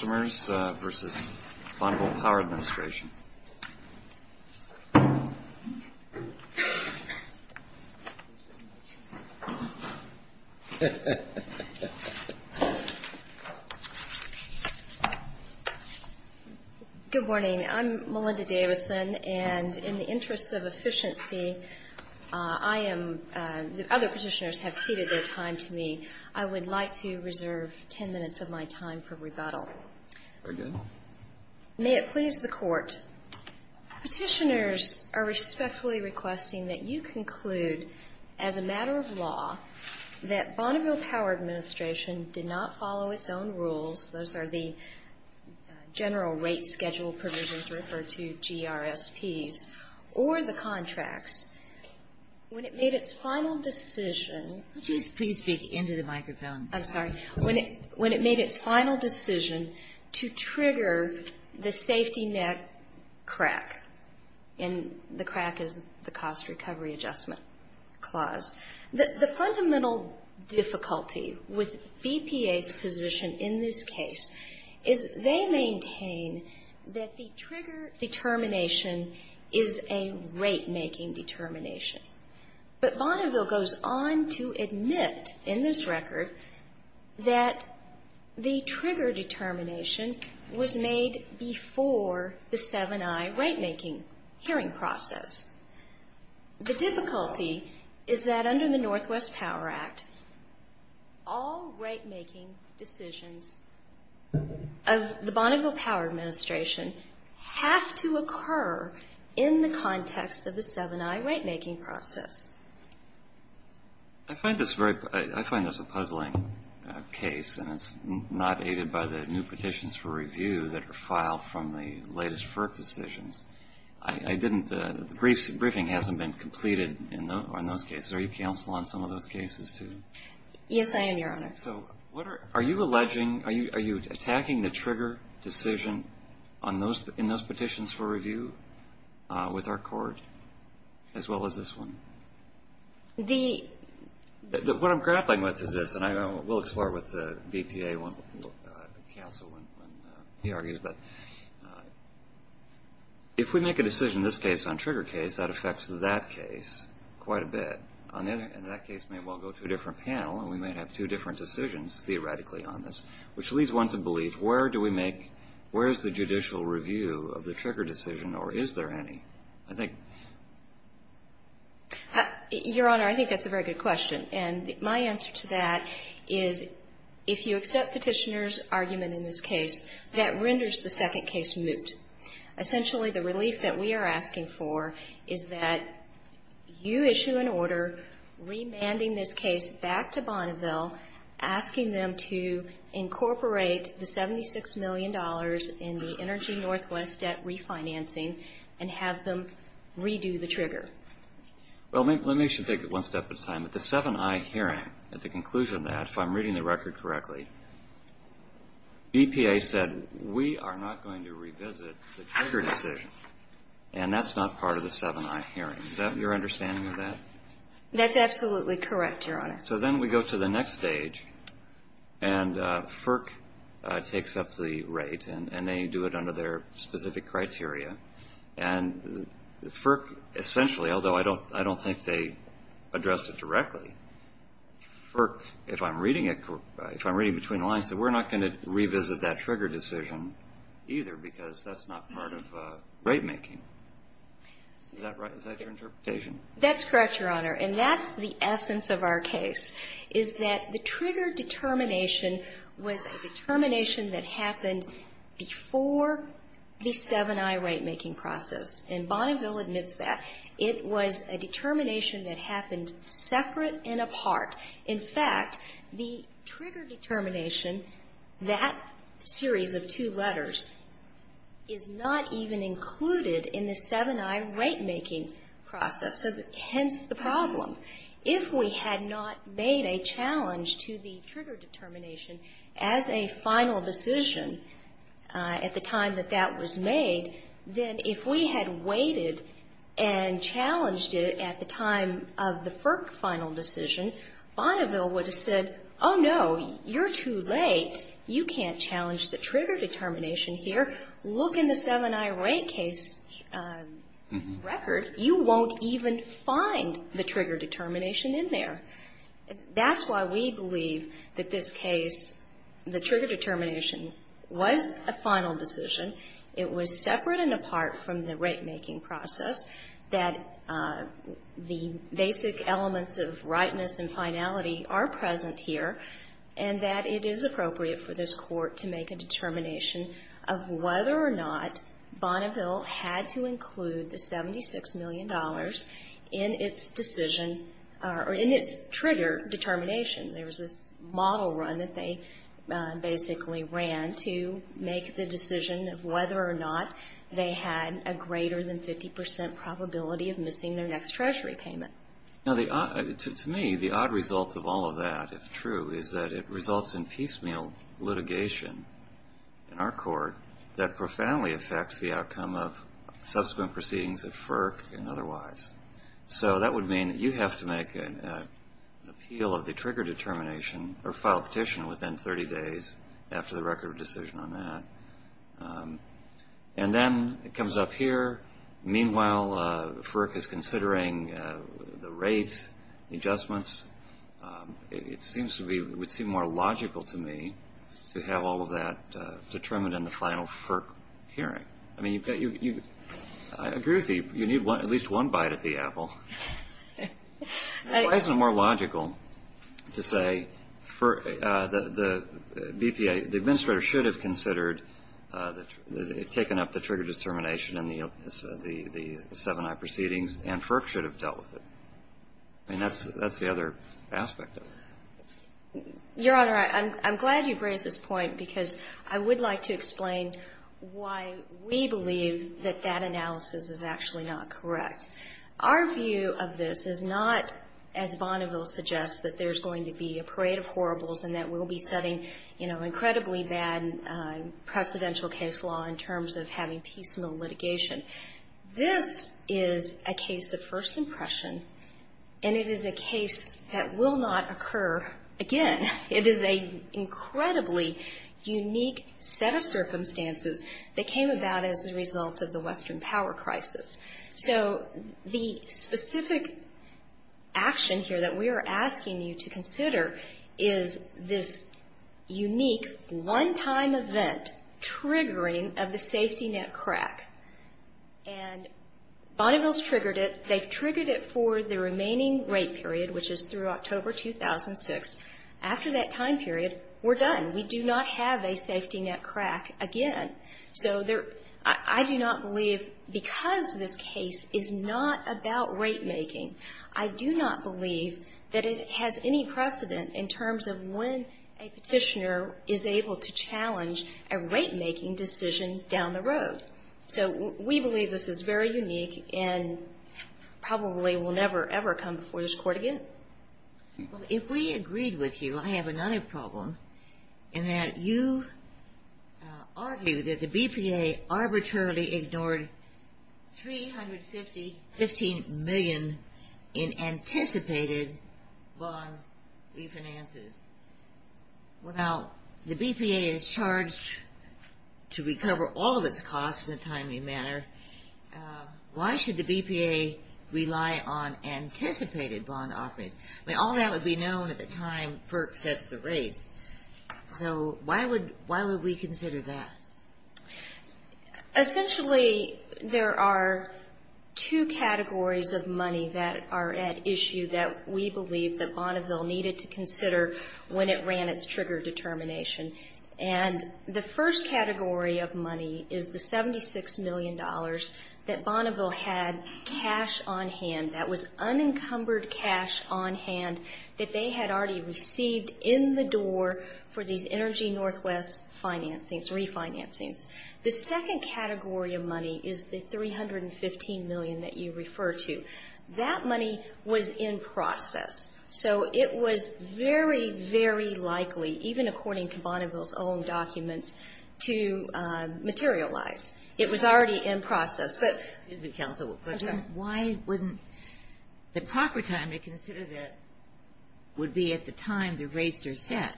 Vs. Bonneville Power Administration Good morning, I'm Melinda Davison, and in the interest of efficiency, the other petitioners have ceded their time to me. I would like to reserve 10 minutes of my time for rebuttal. Very good. May it please the Court, petitioners are respectfully requesting that you conclude, as a matter of law, that Bonneville Power Administration did not follow its own rules, those are the general rate schedule provisions referred to GRSPs, or the contracts. When it made its final decision to trigger the safety net crack, and the crack is the cost recovery adjustment clause, the fundamental difficulty with BPA's position in this case is they maintain that the trigger determination is a rate-making determination. But Bonneville goes on to admit in this record that the trigger determination was made before the 7i rate-making hearing process. The difficulty is that under the Northwest Power Act, all rate-making decisions of the Bonneville Power Administration have to occur in the context of the 7i rate-making process. I find this a puzzling case, and it's not aided by the new petitions for review that are filed from the latest FERC decisions. I didn't, the briefing hasn't been completed in those cases. Are you counsel on some of those cases, too? Yes, I am, Your Honor. Okay, so what are, are you alleging, are you attacking the trigger decision on those, in those petitions for review with our court, as well as this one? The... What I'm grappling with is this, and we'll explore with the BPA counsel when he argues, but if we make a decision in this case on trigger case, that affects that case quite a bit, and that case may well go to a different panel, and we may have two different decisions theoretically on this, which leads one to believe, where do we make, where is the judicial review of the trigger decision, or is there any? I think... Your Honor, I think that's a very good question, and my answer to that is, if you accept Petitioner's argument in this case, that renders the second case moot. Essentially, the relief that we are asking for is that you issue an order remanding this case back to Bonneville, asking them to incorporate the 76 million dollars in the Energy Northwest debt refinancing, and have them redo the trigger. Well, let me just take it one step at a time. At the 7i hearing, at the conclusion of that, if I'm reading the record correctly, BPA said, we are not going to revisit the trigger decision, and that's not part of the 7i hearing. Is that your understanding of that? That's absolutely correct, Your Honor. So then we go to the next stage, and FERC takes up the right, and they do it under their specific criteria, and FERC essentially, although I don't think they addressed it directly, FERC, if I'm reading it, if I'm reading between the lines, said we're not going to revisit that trigger decision either, because that's not part of ratemaking. Is that right? Is that your interpretation? That's correct, Your Honor. And that's the essence of our case, is that the trigger determination was a determination that happened before the 7i ratemaking process. And Bonneville admits that. It was a determination that happened separate and apart. In fact, the trigger determination, that series of two letters, is not even included in the 7i ratemaking process, hence the problem. If we had not made a challenge to the trigger determination as a final decision at the time that that was made, then if we had waited and challenged it at the time of the FERC final decision, Bonneville would have said, oh, no, you're too late. You can't challenge the trigger determination here. Look in the 7i rate case record. You won't even find the trigger determination in there. That's why we believe that this case, the trigger determination was a final decision. It was separate and apart from the ratemaking process, that the basic elements of rightness and finality are present here, and that it is appropriate for this Court to make a determination of whether or not Bonneville had to include the $76 million in its decision or in its trigger determination. There was this model run that they basically ran to make the decision of whether or not they had a greater than 50 percent probability of missing their next treasury payment. Now, to me, the odd result of all of that, if true, is that it results in piecemeal litigation in our Court that profoundly affects the outcome of subsequent proceedings at FERC and otherwise. So that would mean that you have to make an appeal of the trigger determination or file a petition within 30 days after the record of decision on that. And then it comes up here. Meanwhile, FERC is considering the rate adjustments. It would seem more logical to me to have all of that determined in the final FERC hearing. I mean, I agree with you. You need at least one bite of the apple. Why is it more logical to say the BPA, the administrator, should have considered taken up the trigger determination in the 7i proceedings and FERC should have dealt with it? I mean, that's the other aspect of it. Your Honor, I'm glad you've raised this point because I would like to explain why we believe that that analysis is actually not correct. Our view of this is not, as Bonneville suggests, that there's going to be a parade of horribles and that we'll be setting, you know, incredibly bad precedential case law in terms of having piecemeal litigation. This is a case of first impression, and it is a case that will not occur again. It is an incredibly unique set of circumstances that came about as a result of the Western power crisis. So the specific action here that we are asking you to consider is this unique one-time event, triggering of the safety net crack. And Bonneville's triggered it. They've triggered it for the remaining rate period, which is through October 2006. After that time period, we're done. We do not have a safety net crack again. So I do not believe, because this case is not about rate making, I do not believe that it has any precedent in terms of when a petitioner is able to challenge a rate-making decision down the road. So we believe this is very unique and probably will never, ever come before this Court again. If we agreed with you, I have another problem, in that you argue that the BPA arbitrarily ignored $315 million in anticipated bond refinances. Now, the BPA is charged to recover all of its costs in a timely manner. Why should the BPA rely on anticipated bond offerings? I mean, all that would be known at the time FERC sets the rates. So why would we consider that? Essentially, there are two categories of money that are at issue that we believe that Bonneville needed to consider when it ran its trigger determination. And the first category of money is the $76 million that Bonneville had cash on hand. That was unencumbered cash on hand that they had already received in the door for these Energy Northwest refinancings. The second category of money is the $315 million that you refer to. That money was in process. So it was very, very likely, even according to Bonneville's own documents, to materialize. It was already in process. But why wouldn't the proper time to consider that would be at the time the rates are set?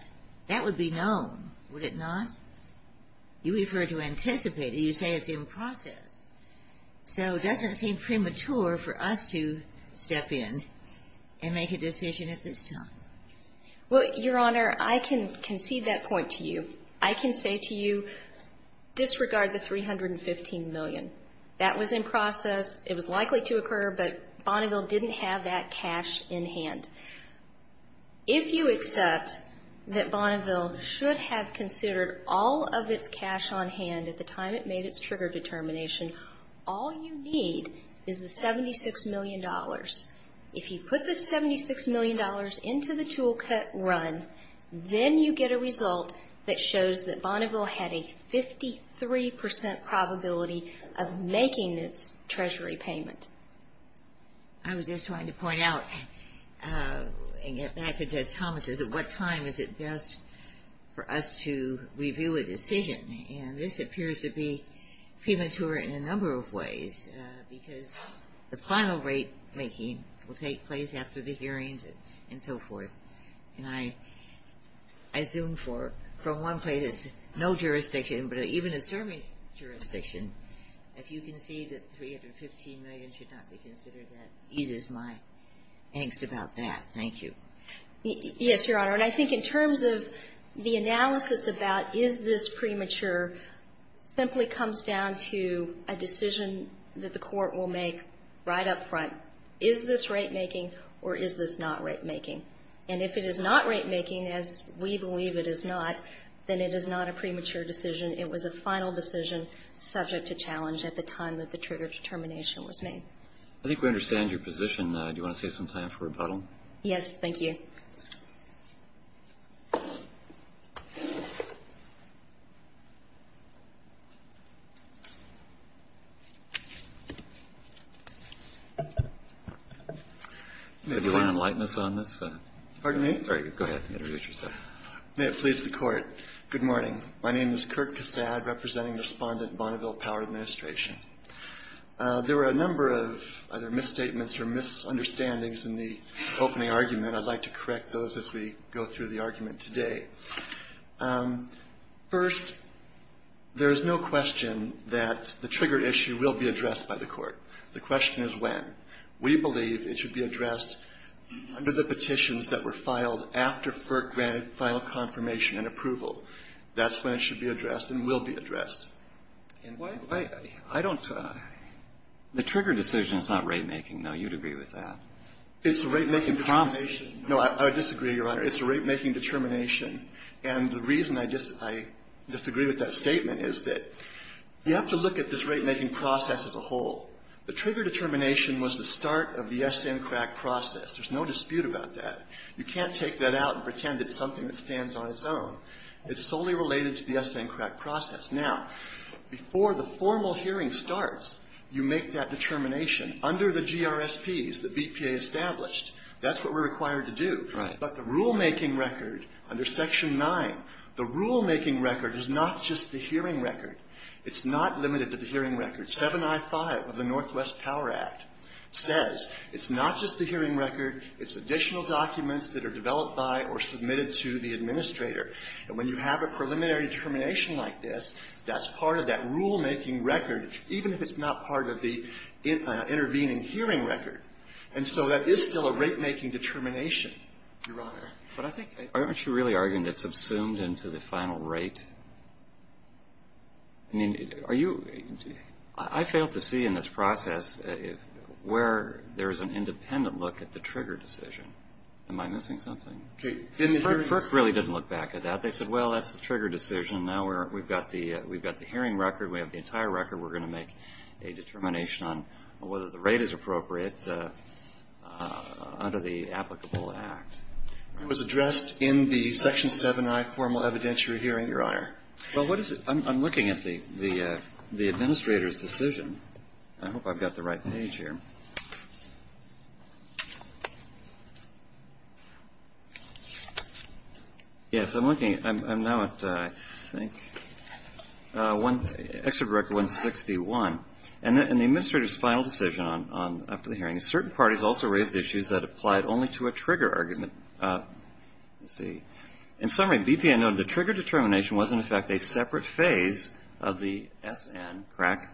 That would be known. Would it not? You refer to anticipated. You say it's in process. So it doesn't seem premature for us to step in and make a decision at this time. Well, Your Honor, I can concede that point to you. I can say to you, disregard the $315 million. That was in process. It was likely to occur. But Bonneville didn't have that cash in hand. If you accept that Bonneville should have considered all of its cash on hand at the time it made its trigger determination, all you need is the $76 million. If you put the $76 million into the toolkit run, then you get a result that shows that Bonneville had a 53% probability of making its Treasury payment. I was just trying to point out and get back to Judge Thomas's, at what time is it best for us to review a decision? And this appears to be premature in a number of ways, because the final rate making will take place after the hearings and so forth. And I assume from one place it's no jurisdiction, but even a serving jurisdiction, if you concede that $315 million should not be considered, that eases my angst about that. Thank you. Yes, Your Honor. And I think in terms of the analysis about is this premature, simply comes down to a decision that the Court will make right up front. Is this rate making or is this not rate making? And if it is not rate making, as we believe it is not, then it is not a premature decision. It was a final decision subject to challenge at the time that the trigger determination was made. I think we understand your position. Do you want to save some time for rebuttal? Yes. Thank you. If you want to enlighten us on this. Pardon me? Sorry. Go ahead. May it please the Court. Good morning. My name is Kirk Cassad, representing Respondent Bonneville Power Administration. There were a number of either misstatements or misunderstandings in the opening argument. I'd like to correct those as we go through the argument today. First, there is no question that the trigger issue will be addressed by the Court. The question is when. We believe it should be addressed under the petitions that were filed after FERC granted final confirmation and approval. That's when it should be addressed and will be addressed. I don't the trigger decision is not rate making. No, you'd agree with that. It's a rate making determination. No, I disagree, Your Honor. It's a rate making determination. And the reason I disagree with that statement is that you have to look at this rate making process as a whole. The trigger determination was the start of the SN-CRAC process. There's no dispute about that. You can't take that out and pretend it's something that stands on its own. It's solely related to the SN-CRAC process. Now, before the formal hearing starts, you make that determination. Under the GRSPs that BPA established, that's what we're required to do. Right. But the rulemaking record under Section 9, the rulemaking record is not just the hearing record. It's not limited to the hearing record. 7i5 of the Northwest Power Act says it's not just the hearing record. It's additional documents that are developed by or submitted to the administrator. And when you have a preliminary determination like this, that's part of that rulemaking record, even if it's not part of the intervening hearing record. And so that is still a rate making determination, Your Honor. But I think, aren't you really arguing it's subsumed into the final rate? I mean, are you – I failed to see in this process where there's an independent look at the trigger decision. Am I missing something? FERC really didn't look back at that. They said, well, that's the trigger decision. Now we've got the hearing record. We have the entire record. We're going to make a determination on whether the rate is appropriate under the applicable act. It was addressed in the Section 7i formal evidentiary hearing, Your Honor. Well, what is it? I'm looking at the administrator's decision. I hope I've got the right page here. Yes, I'm looking. I'm now at, I think, Excerpt Record 161. And the administrator's final decision after the hearing is certain parties also raised issues that applied only to a trigger argument. Let's see. In summary, BPN noted the trigger determination was, in effect, a separate phase of the SN, correct,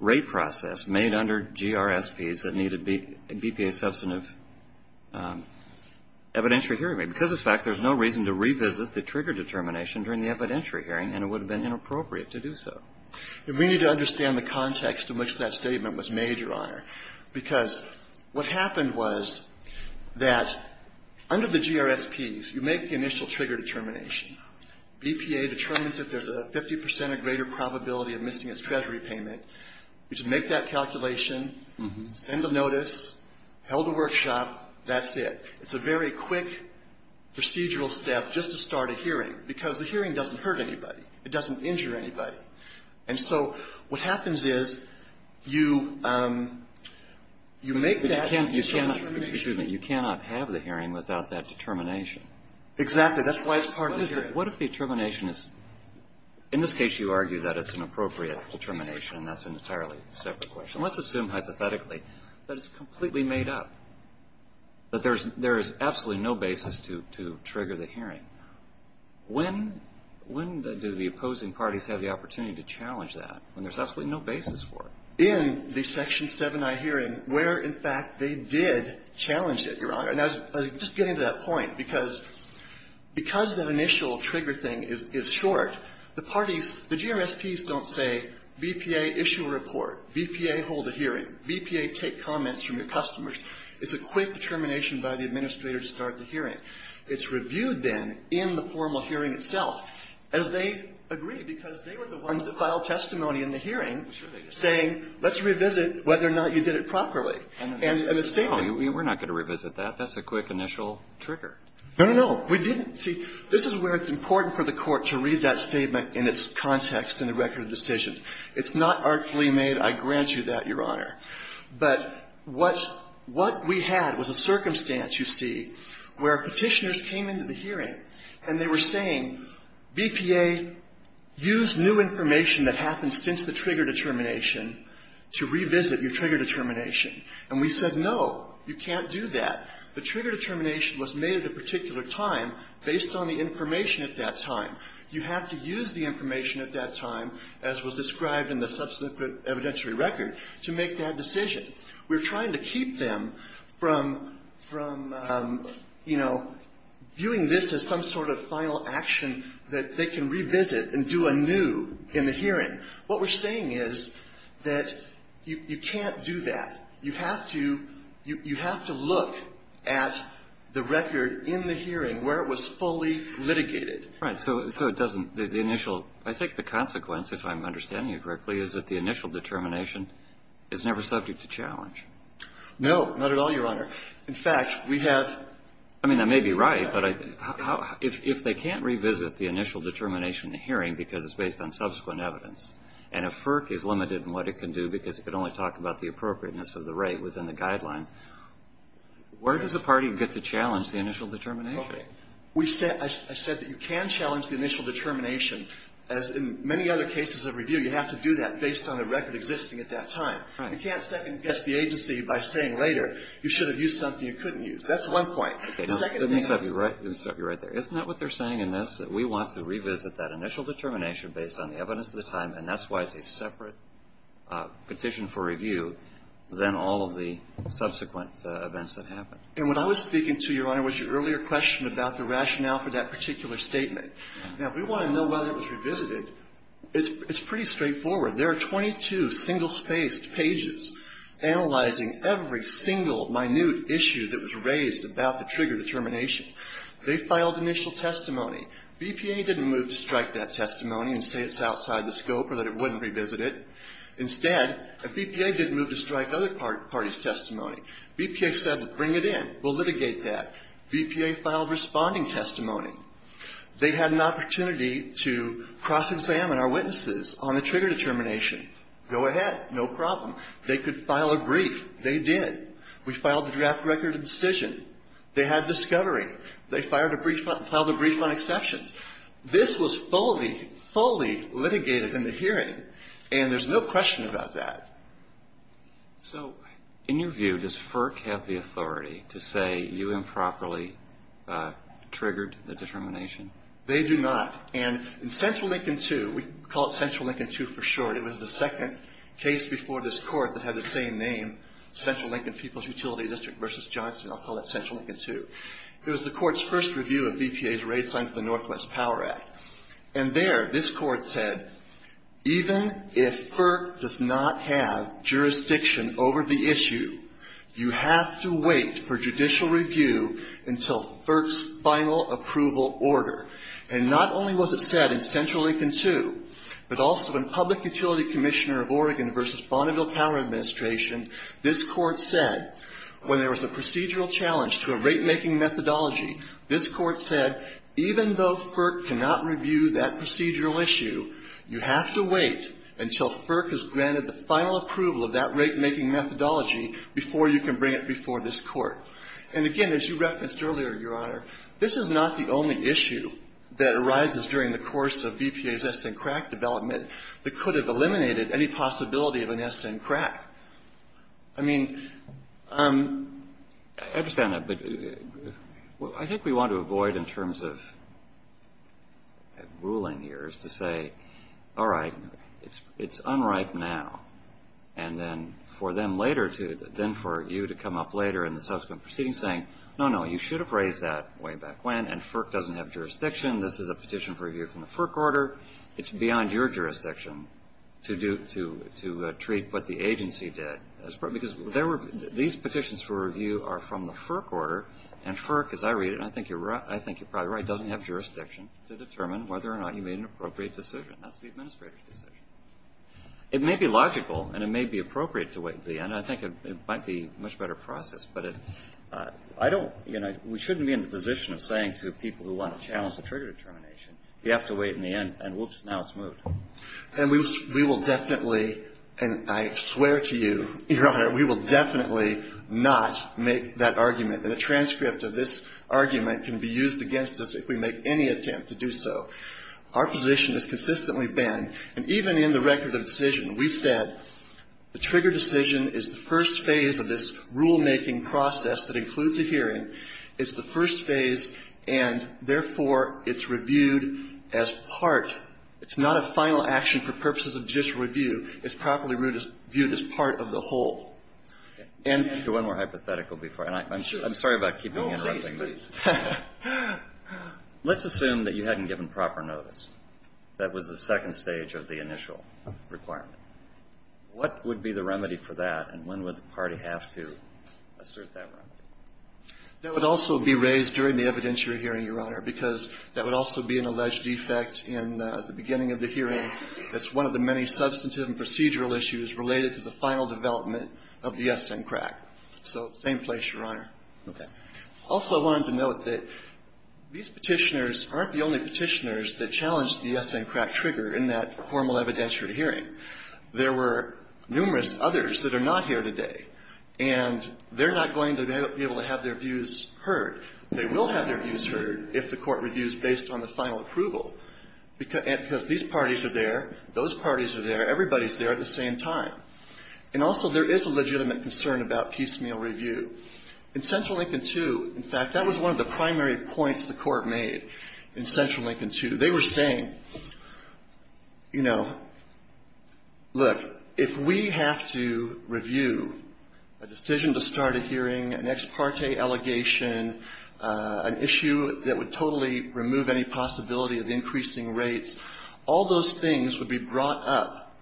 rate process made under GRSPs that needed BPA substantive evidentiary hearing. Because of this fact, there's no reason to revisit the trigger determination during the evidentiary hearing, and it would have been inappropriate to do so. We need to understand the context in which that statement was made, Your Honor, because what happened was that under the GRSPs, you make the initial trigger determination. BPA determines if there's a 50 percent or greater probability of missing its treasury payment. You just make that calculation, send a notice, held a workshop, that's it. It's a very quick procedural step just to start a hearing, because the hearing doesn't hurt anybody. It doesn't injure anybody. And so what happens is you make that initial determination. But you cannot have the hearing without that determination. Exactly. That's why it's part of the hearing. What if the determination is – in this case, you argue that it's an appropriate determination. That's an entirely separate question. Let's assume hypothetically that it's completely made up, that there is absolutely no basis to trigger the hearing. When do the opposing parties have the opportunity to challenge that when there's absolutely no basis for it? In the Section 7i hearing, where, in fact, they did challenge it, Your Honor. And I was just getting to that point, because that initial trigger thing is short, the parties, the GRSPs don't say, BPA, issue a report. BPA, hold a hearing. BPA, take comments from your customers. It's a quick determination by the administrator to start the hearing. It's reviewed then in the formal hearing itself, as they agree, because they were the ones that filed testimony in the hearing saying, let's revisit whether or not you did it properly. And the statement – We're not going to revisit that. That's a quick initial trigger. No, no, no. We didn't. See, this is where it's important for the Court to read that statement in its context in the record of decision. It's not artfully made. I grant you that, Your Honor. But what we had was a circumstance, you see, where Petitioners came into the hearing and they were saying, BPA, use new information that happened since the trigger determination to revisit your trigger determination. And we said, no, you can't do that. The trigger determination was made at a particular time based on the information at that time. You have to use the information at that time, as was described in the subsequent evidentiary record, to make that decision. We're trying to keep them from, you know, viewing this as some sort of final action that they can revisit and do anew in the hearing. What we're saying is that you can't do that. You have to look at the record in the hearing where it was fully litigated. Right. So it doesn't, the initial, I think the consequence, if I'm understanding you correctly, is that the initial determination is never subject to challenge. No, not at all, Your Honor. In fact, we have. I mean, I may be right, but if they can't revisit the initial determination in the hearing because it's based on subsequent evidence, and a FERC is limited in what it can do because it can only talk about the appropriateness of the rate within the guidelines, where does the party get to challenge the initial determination? Okay. I said that you can challenge the initial determination, as in many other cases of review, you have to do that based on the record existing at that time. Right. You can't second-guess the agency by saying later you should have used something you couldn't use. That's one point. Okay. Let me stop you right there. Isn't that what they're saying in this, that we want to revisit that initial determination based on the evidence of the time, and that's why it's a separate petition for review than all of the subsequent events that happened? And what I was speaking to, Your Honor, was your earlier question about the rationale for that particular statement. Now, if we want to know whether it was revisited, it's pretty straightforward. There are 22 single-spaced pages analyzing every single minute issue that was raised about the trigger determination. They filed initial testimony. BPA didn't move to strike that testimony and say it's outside the scope or that it wouldn't revisit it. Instead, if BPA didn't move to strike other parties' testimony, BPA said, well, bring it in. We'll litigate that. BPA filed responding testimony. They had an opportunity to cross-examine our witnesses on the trigger determination. Go ahead. No problem. They could file a brief. They did. We filed a draft record of decision. They had discovery. They filed a brief on exceptions. This was fully, fully litigated in the hearing, and there's no question about that. So in your view, does FERC have the authority to say you improperly triggered the determination? They do not. And in Central Lincoln II, we call it Central Lincoln II for short. It was the second case before this Court that had the same name, Central Lincoln People's Utility District v. Johnson. I'll call it Central Lincoln II. It was the Court's first review of BPA's rate sign for the Northwest Power Act. And there, this Court said, even if FERC does not have jurisdiction over the issue, you have to wait for judicial review until FERC's final approval order. And not only was it said in Central Lincoln II, but also in Public Utility Commissioner of Oregon v. Bonneville Power Administration, this Court said, when there was a procedural challenge to a rate-making methodology, this Court said, even though FERC cannot review that procedural issue, you have to wait until FERC has granted the final approval of that rate-making methodology before you can bring it before this Court. And again, as you referenced earlier, Your Honor, this is not the only issue that could have eliminated any possibility of an SN crack. I mean, I understand that. But I think we want to avoid, in terms of ruling here, is to say, all right, it's unripe now. And then for them later to then for you to come up later in the subsequent proceedings saying, no, no, you should have raised that way back when, and FERC doesn't have jurisdiction. This is a petition for review from the FERC order. It's beyond your jurisdiction to treat what the agency did. Because these petitions for review are from the FERC order. And FERC, as I read it, and I think you're probably right, doesn't have jurisdiction to determine whether or not you made an appropriate decision. That's the Administrator's decision. It may be logical, and it may be appropriate to wait until the end. I think it might be a much better process. But I don't, you know, we shouldn't be in the position of saying to people who want to challenge the trigger determination, you have to wait in the end, and whoops, now it's moved. And we will definitely, and I swear to you, Your Honor, we will definitely not make that argument. And a transcript of this argument can be used against us if we make any attempt to do so. Our position is consistently banned. And even in the record of decision, we said the trigger decision is the first phase of this rulemaking process that includes a hearing. It's the first phase, and therefore, it's reviewed as part. It's not a final action for purposes of judicial review. It's properly viewed as part of the whole. And you can't do one more hypothetical before. And I'm sorry about keeping you interrupted. No, please, please. Let's assume that you hadn't given proper notice. That was the second stage of the initial requirement. What would be the remedy for that, and when would the party have to assert that remedy? That would also be raised during the evidentiary hearing, Your Honor, because that would also be an alleged defect in the beginning of the hearing. It's one of the many substantive and procedural issues related to the final development of the yes-in crack. So same place, Your Honor. Okay. Also, I wanted to note that these Petitioners aren't the only Petitioners that challenged the yes-in crack trigger in that formal evidentiary hearing. There were numerous others that are not here today. And they're not going to be able to have their views heard. They will have their views heard if the Court reviews based on the final approval, because these parties are there, those parties are there, everybody's there at the same time. And also, there is a legitimate concern about piecemeal review. In Central Lincoln II, in fact, that was one of the primary points the Court made in Central Lincoln II. They were saying, you know, look, if we have to review a decision to start a hearing, an ex parte allegation, an issue that would totally remove any possibility of increasing rates, all those things would be brought up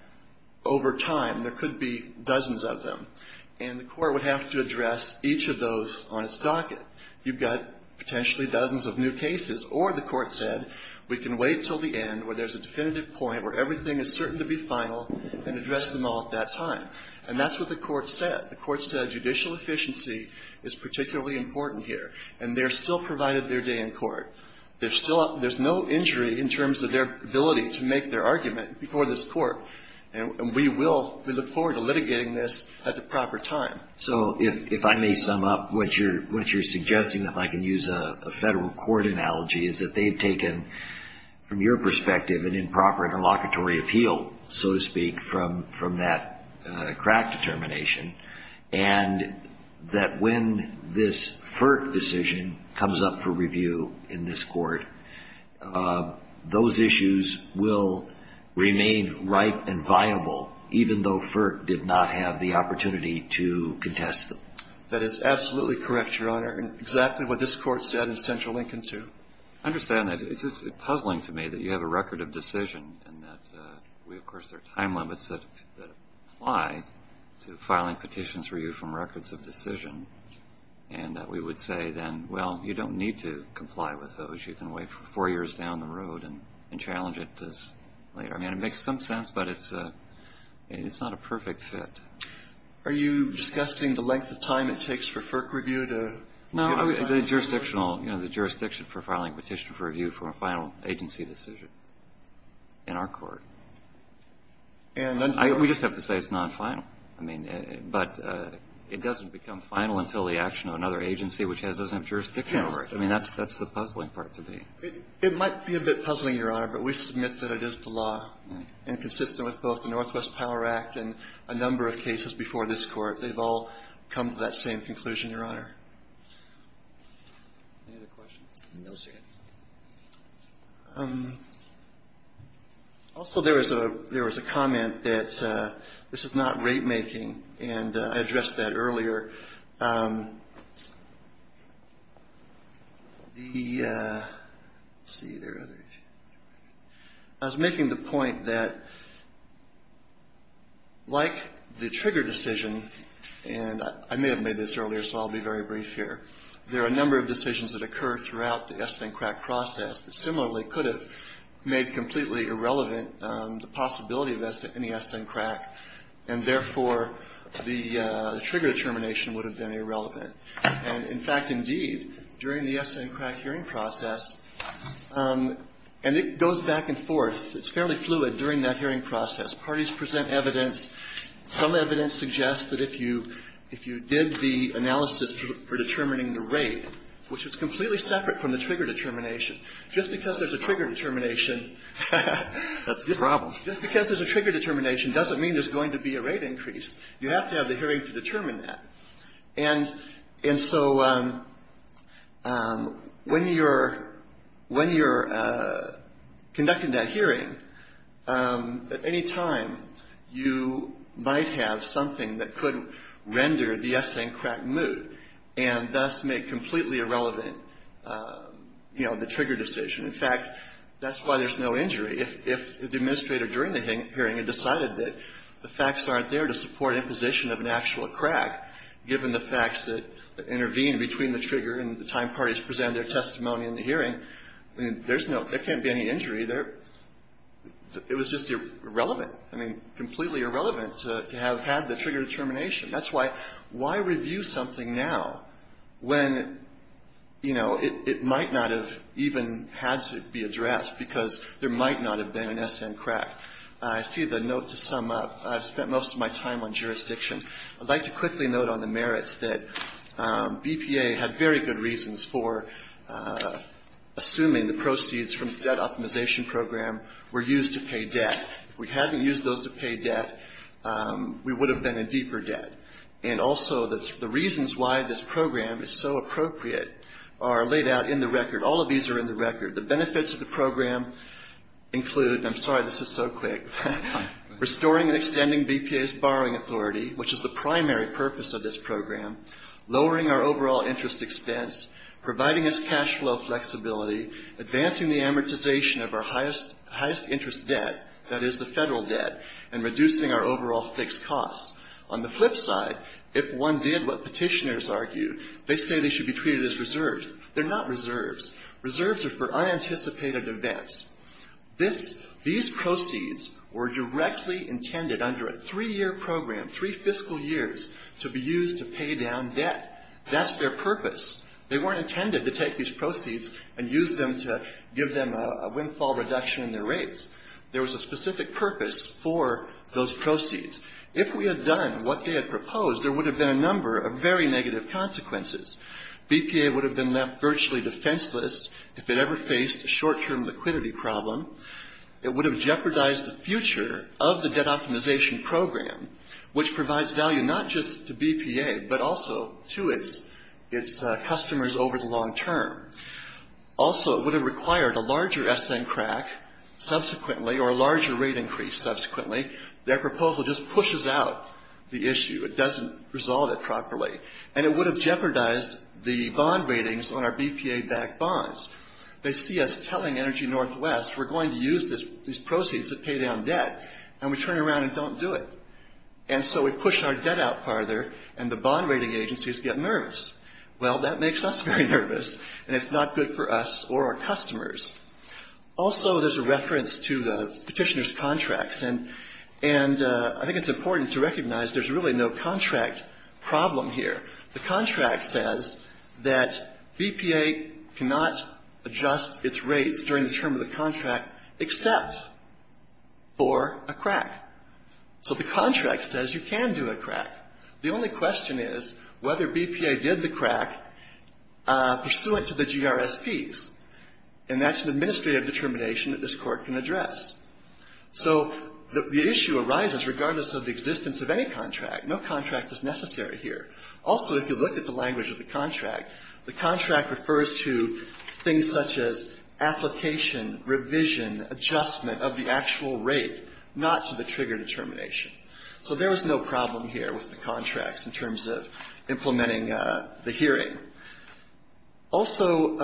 over time. There could be dozens of them. And the Court would have to address each of those on its docket. You've got potentially dozens of new cases, or the Court said, we can wait until the end where there's a definitive point where everything is certain to be final and address them all at that time. And that's what the Court said. The Court said judicial efficiency is particularly important here. And they're still provided their day in court. There's still no injury in terms of their ability to make their argument before this Court. And we will, we look forward to litigating this at the proper time. So if I may sum up what you're suggesting, if I can use a federal court analogy, is that they've taken, from your perspective, an improper interlocutory appeal, so to speak, from that crack determination. And that when this FERT decision comes up for review in this Court, those issues will remain ripe and viable, even though FERT did not have the authority to contest them. That is absolutely correct, Your Honor. And exactly what this Court said in Central Lincoln too. I understand that. It's puzzling to me that you have a record of decision and that we, of course, there are time limits that apply to filing petitions for you from records of decision and that we would say then, well, you don't need to comply with those. You can wait for four years down the road and challenge it later. I mean, it makes some sense, but it's not a perfect fit. Are you discussing the length of time it takes for FERC review to get a final? No. The jurisdictional, you know, the jurisdiction for filing a petition for review from a final agency decision in our Court. And under what? We just have to say it's nonfinal. I mean, but it doesn't become final until the action of another agency which has a jurisdiction over it. Yes. I mean, that's the puzzling part to me. It might be a bit puzzling, Your Honor, but we submit that it is the law. And consistent with both the Northwest Power Act and a number of cases before this Court, they've all come to that same conclusion, Your Honor. Any other questions? No, sir. Also, there was a comment that this is not ratemaking, and I addressed that earlier. I was making the point that like the trigger decision, and I may have made this earlier, so I'll be very brief here. There are a number of decisions that occur throughout the Esten Crack process that similarly could have made completely irrelevant the possibility of any Esten Crack, and, therefore, the trigger determination would have been irrelevant. And, in fact, indeed, during the Esten Crack hearing process, and it goes back and forth. It's fairly fluid during that hearing process. Parties present evidence. Some evidence suggests that if you did the analysis for determining the rate, which is completely separate from the trigger determination, just because there's a trigger determination, just because there's a trigger determination doesn't mean there's going to be a rate increase. You have to have the hearing to determine that. And so when you're conducting that hearing, at any time, you might have something that could render the Esten Crack moot and thus make completely irrelevant, you know, the trigger decision. In fact, that's why there's no injury. If the administrator during the hearing had decided that the facts aren't there to support imposition of an actual crack, given the facts that intervene between the trigger and the time parties present their testimony in the hearing, there's no – there can't be any injury there. It was just irrelevant. I mean, completely irrelevant to have had the trigger determination. That's why – why review something now when, you know, it might not have even had to be addressed, because there might not have been an Esten Crack. I see the note to sum up. I've spent most of my time on jurisdiction. I'd like to quickly note on the merits that BPA had very good reasons for assuming the proceeds from the Debt Optimization Program were used to pay debt. If we hadn't used those to pay debt, we would have been in deeper debt. And also, the reasons why this program is so appropriate are laid out in the record. All of these are in the record. The benefits of the program include – and I'm sorry this is so quick – restoring and extending BPA's borrowing authority, which is the primary purpose of this program, lowering our overall interest expense, providing us cash flow flexibility, advancing the amortization of our highest interest debt, that is the Federal debt, and reducing our overall fixed costs. On the flip side, if one did what Petitioners argued, they say they should be treated as reserves. They're not reserves. Reserves are for unanticipated events. This – these proceeds were directly intended under a three-year program, three fiscal years, to be used to pay down debt. That's their purpose. They weren't intended to take these proceeds and use them to give them a windfall reduction in their rates. There was a specific purpose for those proceeds. If we had done what they had proposed, there would have been a number of very negative consequences. BPA would have been left virtually defenseless if it ever faced a short-term liquidity problem. It would have jeopardized the future of the debt optimization program, which provides value not just to BPA, but also to its customers over the long term. Also, it would have required a larger S& crack subsequently, or a larger rate increase subsequently. Their proposal just pushes out the issue. It doesn't resolve it properly. And it would have jeopardized the bond ratings on our BPA-backed bonds. They see us telling Energy Northwest we're going to use these proceeds to pay down debt, and we turn around and don't do it. And so we push our debt out farther, and the bond rating agencies get nervous. Well, that makes us very nervous, and it's not good for us or our customers. Also, there's a reference to the petitioner's contracts, and I think it's important to recognize there's really no contract problem here. The contract says that BPA cannot adjust its rates during the term of the contract except for a crack. So the contract says you can do a crack. The only question is whether BPA did the crack pursuant to the GRSPs, and that's an administrative determination that this Court can address. So the issue arises regardless of the existence of any contract. No contract is necessary here. Also, if you look at the language of the contract, the contract refers to things such as application, revision, adjustment of the actual rate, not to the trigger determination. So there is no problem here with the contracts in terms of implementing the hearing. Also,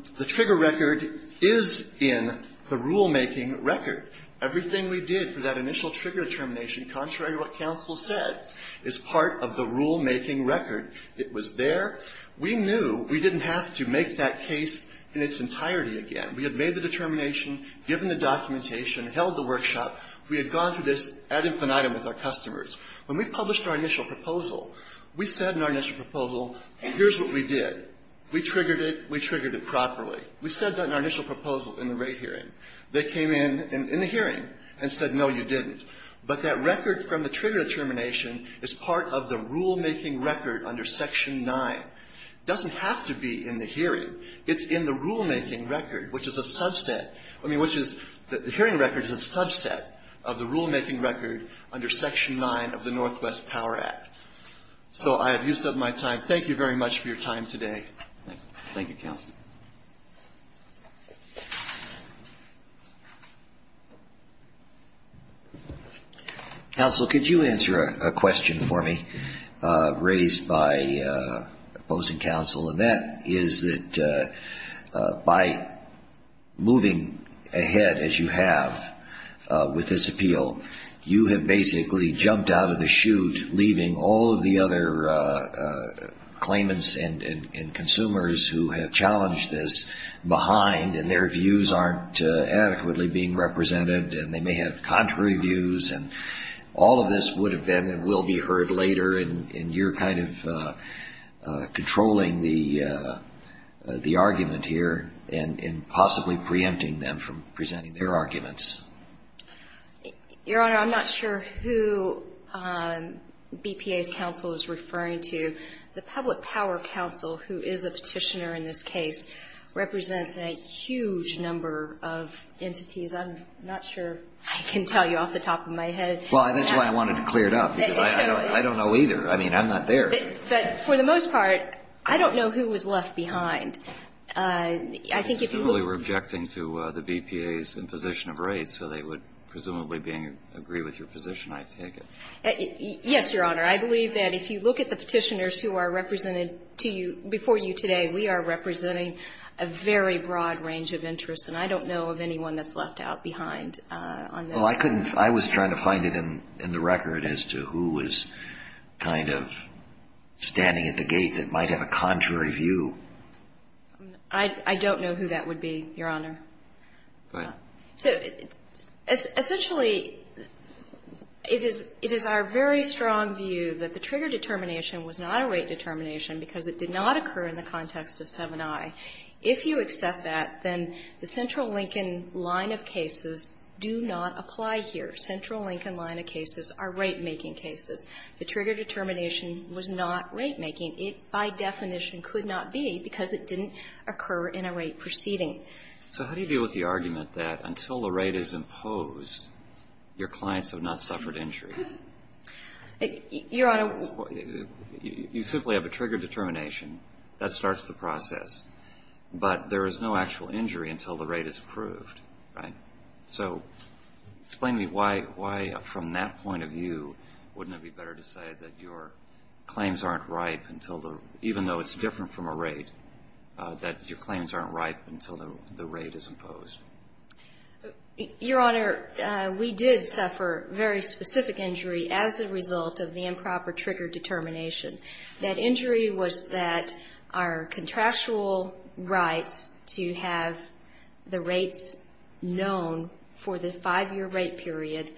the trigger record is in the rulemaking record. Everything we did for that initial trigger determination, contrary to what counsel said, is part of the rulemaking record. It was there. We knew we didn't have to make that case in its entirety again. We had made the determination, given the documentation, held the workshop. We had gone through this ad infinitum with our customers. When we published our initial proposal, we said in our initial proposal, here's what we did. We triggered it. We triggered it properly. We said that in our initial proposal in the rate hearing. They came in, in the hearing, and said, no, you didn't. But that record from the trigger determination is part of the rulemaking record under Section 9. It doesn't have to be in the hearing. It's in the rulemaking record, which is a subset. I mean, which is, the hearing record is a subset of the rulemaking record under Section 9 of the Northwest Power Act. So I have used up my time. Thank you very much for your time today. Thank you, counsel. Counsel, could you answer a question for me raised by opposing counsel? And that is that by moving ahead, as you have, with this appeal, you have basically jumped out of the chute leaving all of the other claimants and consumers who have challenged this behind, and their views aren't adequately being represented, and they may have contrary views, and all of this would have been and will be heard later, and you're kind of controlling the argument here and possibly preempting them from presenting their arguments. Your Honor, I'm not sure who BPA's counsel is referring to. The Public Power Counsel, who is a petitioner in this case, represents a huge number of entities. I'm not sure I can tell you off the top of my head. Well, that's why I wanted to clear it up, because I don't know either. I mean, I'm not there. But for the most part, I don't know who was left behind. I think if you look at the petitioners who are represented to you before you today, we are representing a very broad range of interests, and I don't know of anyone that's left out behind on this. Well, I couldn't, I was trying to find it in the record as to who was kind of standing at the gate that might have a contrary view. I don't know who that would be, Your Honor. Go ahead. So essentially, it is our very strong view that the trigger determination was not a rate determination because it did not occur in the context of 7i. If you accept that, then the Central Lincoln line of cases do not apply here. Central Lincoln line of cases are rate-making cases. The trigger determination was not rate-making. It, by definition, could not be because it didn't occur in a rate proceeding. So how do you deal with the argument that until a rate is imposed, your clients have not suffered injury? Your Honor You simply have a trigger determination. That starts the process. But there is no actual injury until the rate is approved, right? So explain to me why, from that point of view, wouldn't it be better to say that your claims aren't ripe until the, even though it's different from a rate, that your claims aren't ripe until the rate is imposed? Your Honor, we did suffer very specific injury as a result of the improper trigger determination. That injury was that our contractual rights to have the rates known for the 5-year rate period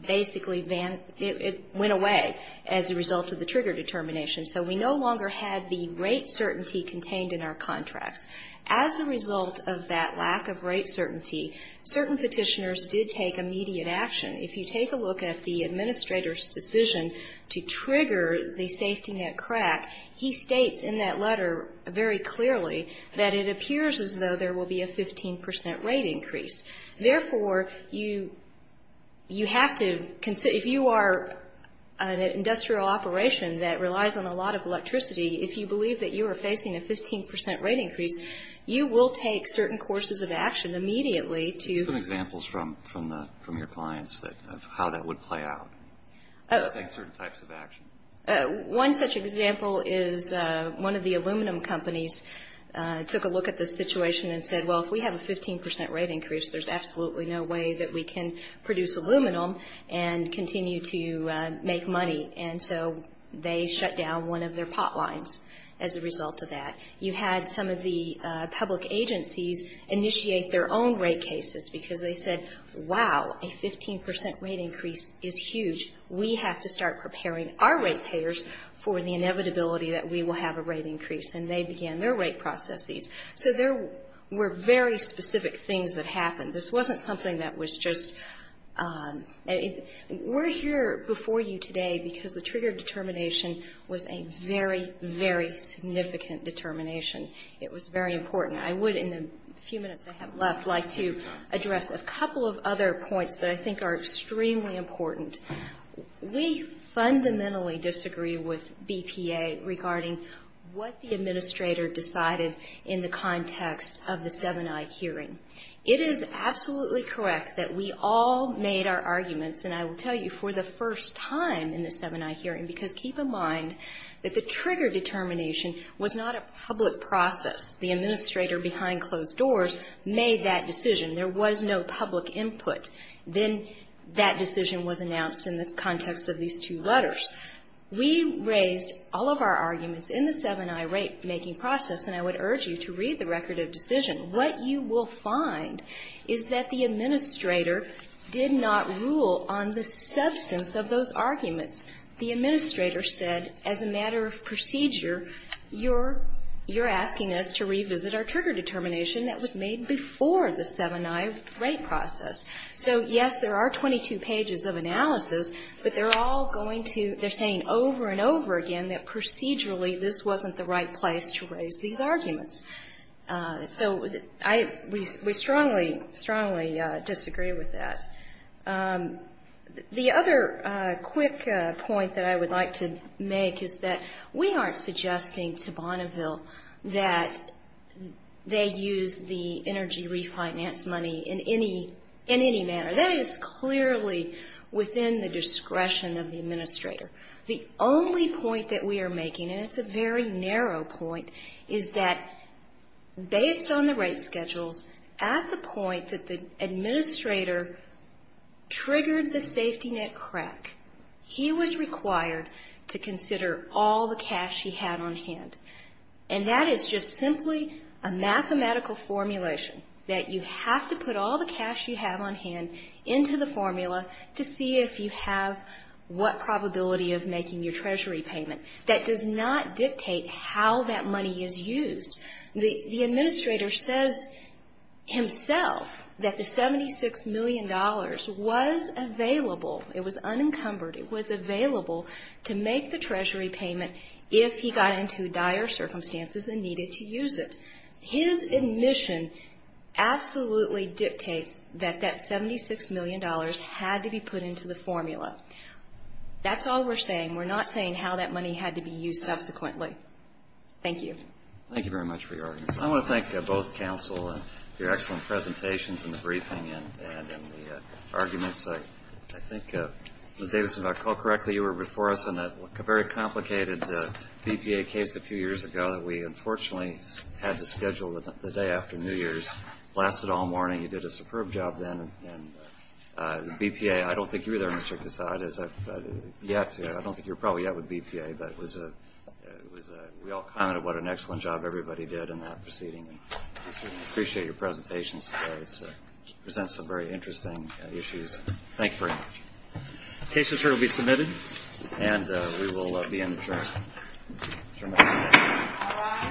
basically, it went away as a result of the trigger determination. So we no longer had the rate certainty contained in our contracts. As a result of that lack of rate certainty, certain Petitioners did take immediate action. If you take a look at the Administrator's decision to trigger the safety net crack, he states in that letter very clearly that it appears as though there will be a 15 percent rate increase. Therefore, you have to, if you are an industrial operation that relies on a lot of electricity, if you believe that you are facing a 15 percent rate increase, you will take certain courses of action immediately to Give some examples from your clients of how that would play out. Take certain types of action. One such example is one of the aluminum companies took a look at this situation and said, well, if we have a 15 percent rate increase, there's absolutely no way that we can produce aluminum and continue to make money. And so they shut down one of their pot lines as a result of that. You had some of the public agencies initiate their own rate cases because they said, wow, a 15 percent rate increase is huge. We have to start preparing our rate payers for the inevitability that we will have a rate increase. And they began their rate processes. So there were very specific things that happened. This wasn't something that was just we're here before you today because the trigger determination was a very, very significant determination. It was very important. I would, in the few minutes I have left, like to address a couple of other points that I think are extremely important. We fundamentally disagree with BPA regarding what the administrator decided in the context of the 7i hearing. It is absolutely correct that we all made our arguments, and I will tell you, for the first time in the 7i hearing, because keep in mind that the trigger determination was not a public process. The administrator behind closed doors made that decision. There was no public input. Then that decision was announced in the context of these two letters. We raised all of our arguments in the 7i rate-making process, and I would urge you to read the record of decision. What you will find is that the administrator did not rule on the substance of those arguments. The administrator said, as a matter of procedure, you're asking us to revisit our trigger determination that was made before the 7i rate process. So, yes, there are 22 pages of analysis, but they're all going to, they're saying over and over again that procedurally this wasn't the right place to raise these arguments. So I, we strongly, strongly disagree with that. The other quick point that I would like to make is that we aren't suggesting to Bonneville that they use the energy refinance money in any, in any manner. That is clearly within the discretion of the administrator. The only point that we are making, and it's a very narrow point, is that based on the rate schedules, at the point that the administrator triggered the safety net crack, he was required to consider all the cash he had on hand. And that is just simply a mathematical formulation that you have to put all the of making your treasury payment. That does not dictate how that money is used. The administrator says himself that the $76 million was available, it was unencumbered, it was available to make the treasury payment if he got into dire circumstances and needed to use it. His admission absolutely dictates that that $76 million had to be put into the formula. That's all we're saying. We're not saying how that money had to be used subsequently. Thank you. Thank you very much for your arguments. I want to thank both counsel for your excellent presentations in the briefing and in the arguments. I think, Ms. Davidson, if I recall correctly, you were before us in a very complicated BPA case a few years ago that we unfortunately had to schedule the day after New Year's. Lasted all morning. You did a superb job then. The BPA, I don't think you were there, Mr. Cassad, as of yet. I don't think you were probably yet with BPA, but we all commented what an excellent job everybody did in that proceeding. Appreciate your presentations today. It presents some very interesting issues. Thank you very much. The case is here to be submitted and we will be in the jury. All rise. Thank you.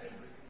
Thank you. Thank you.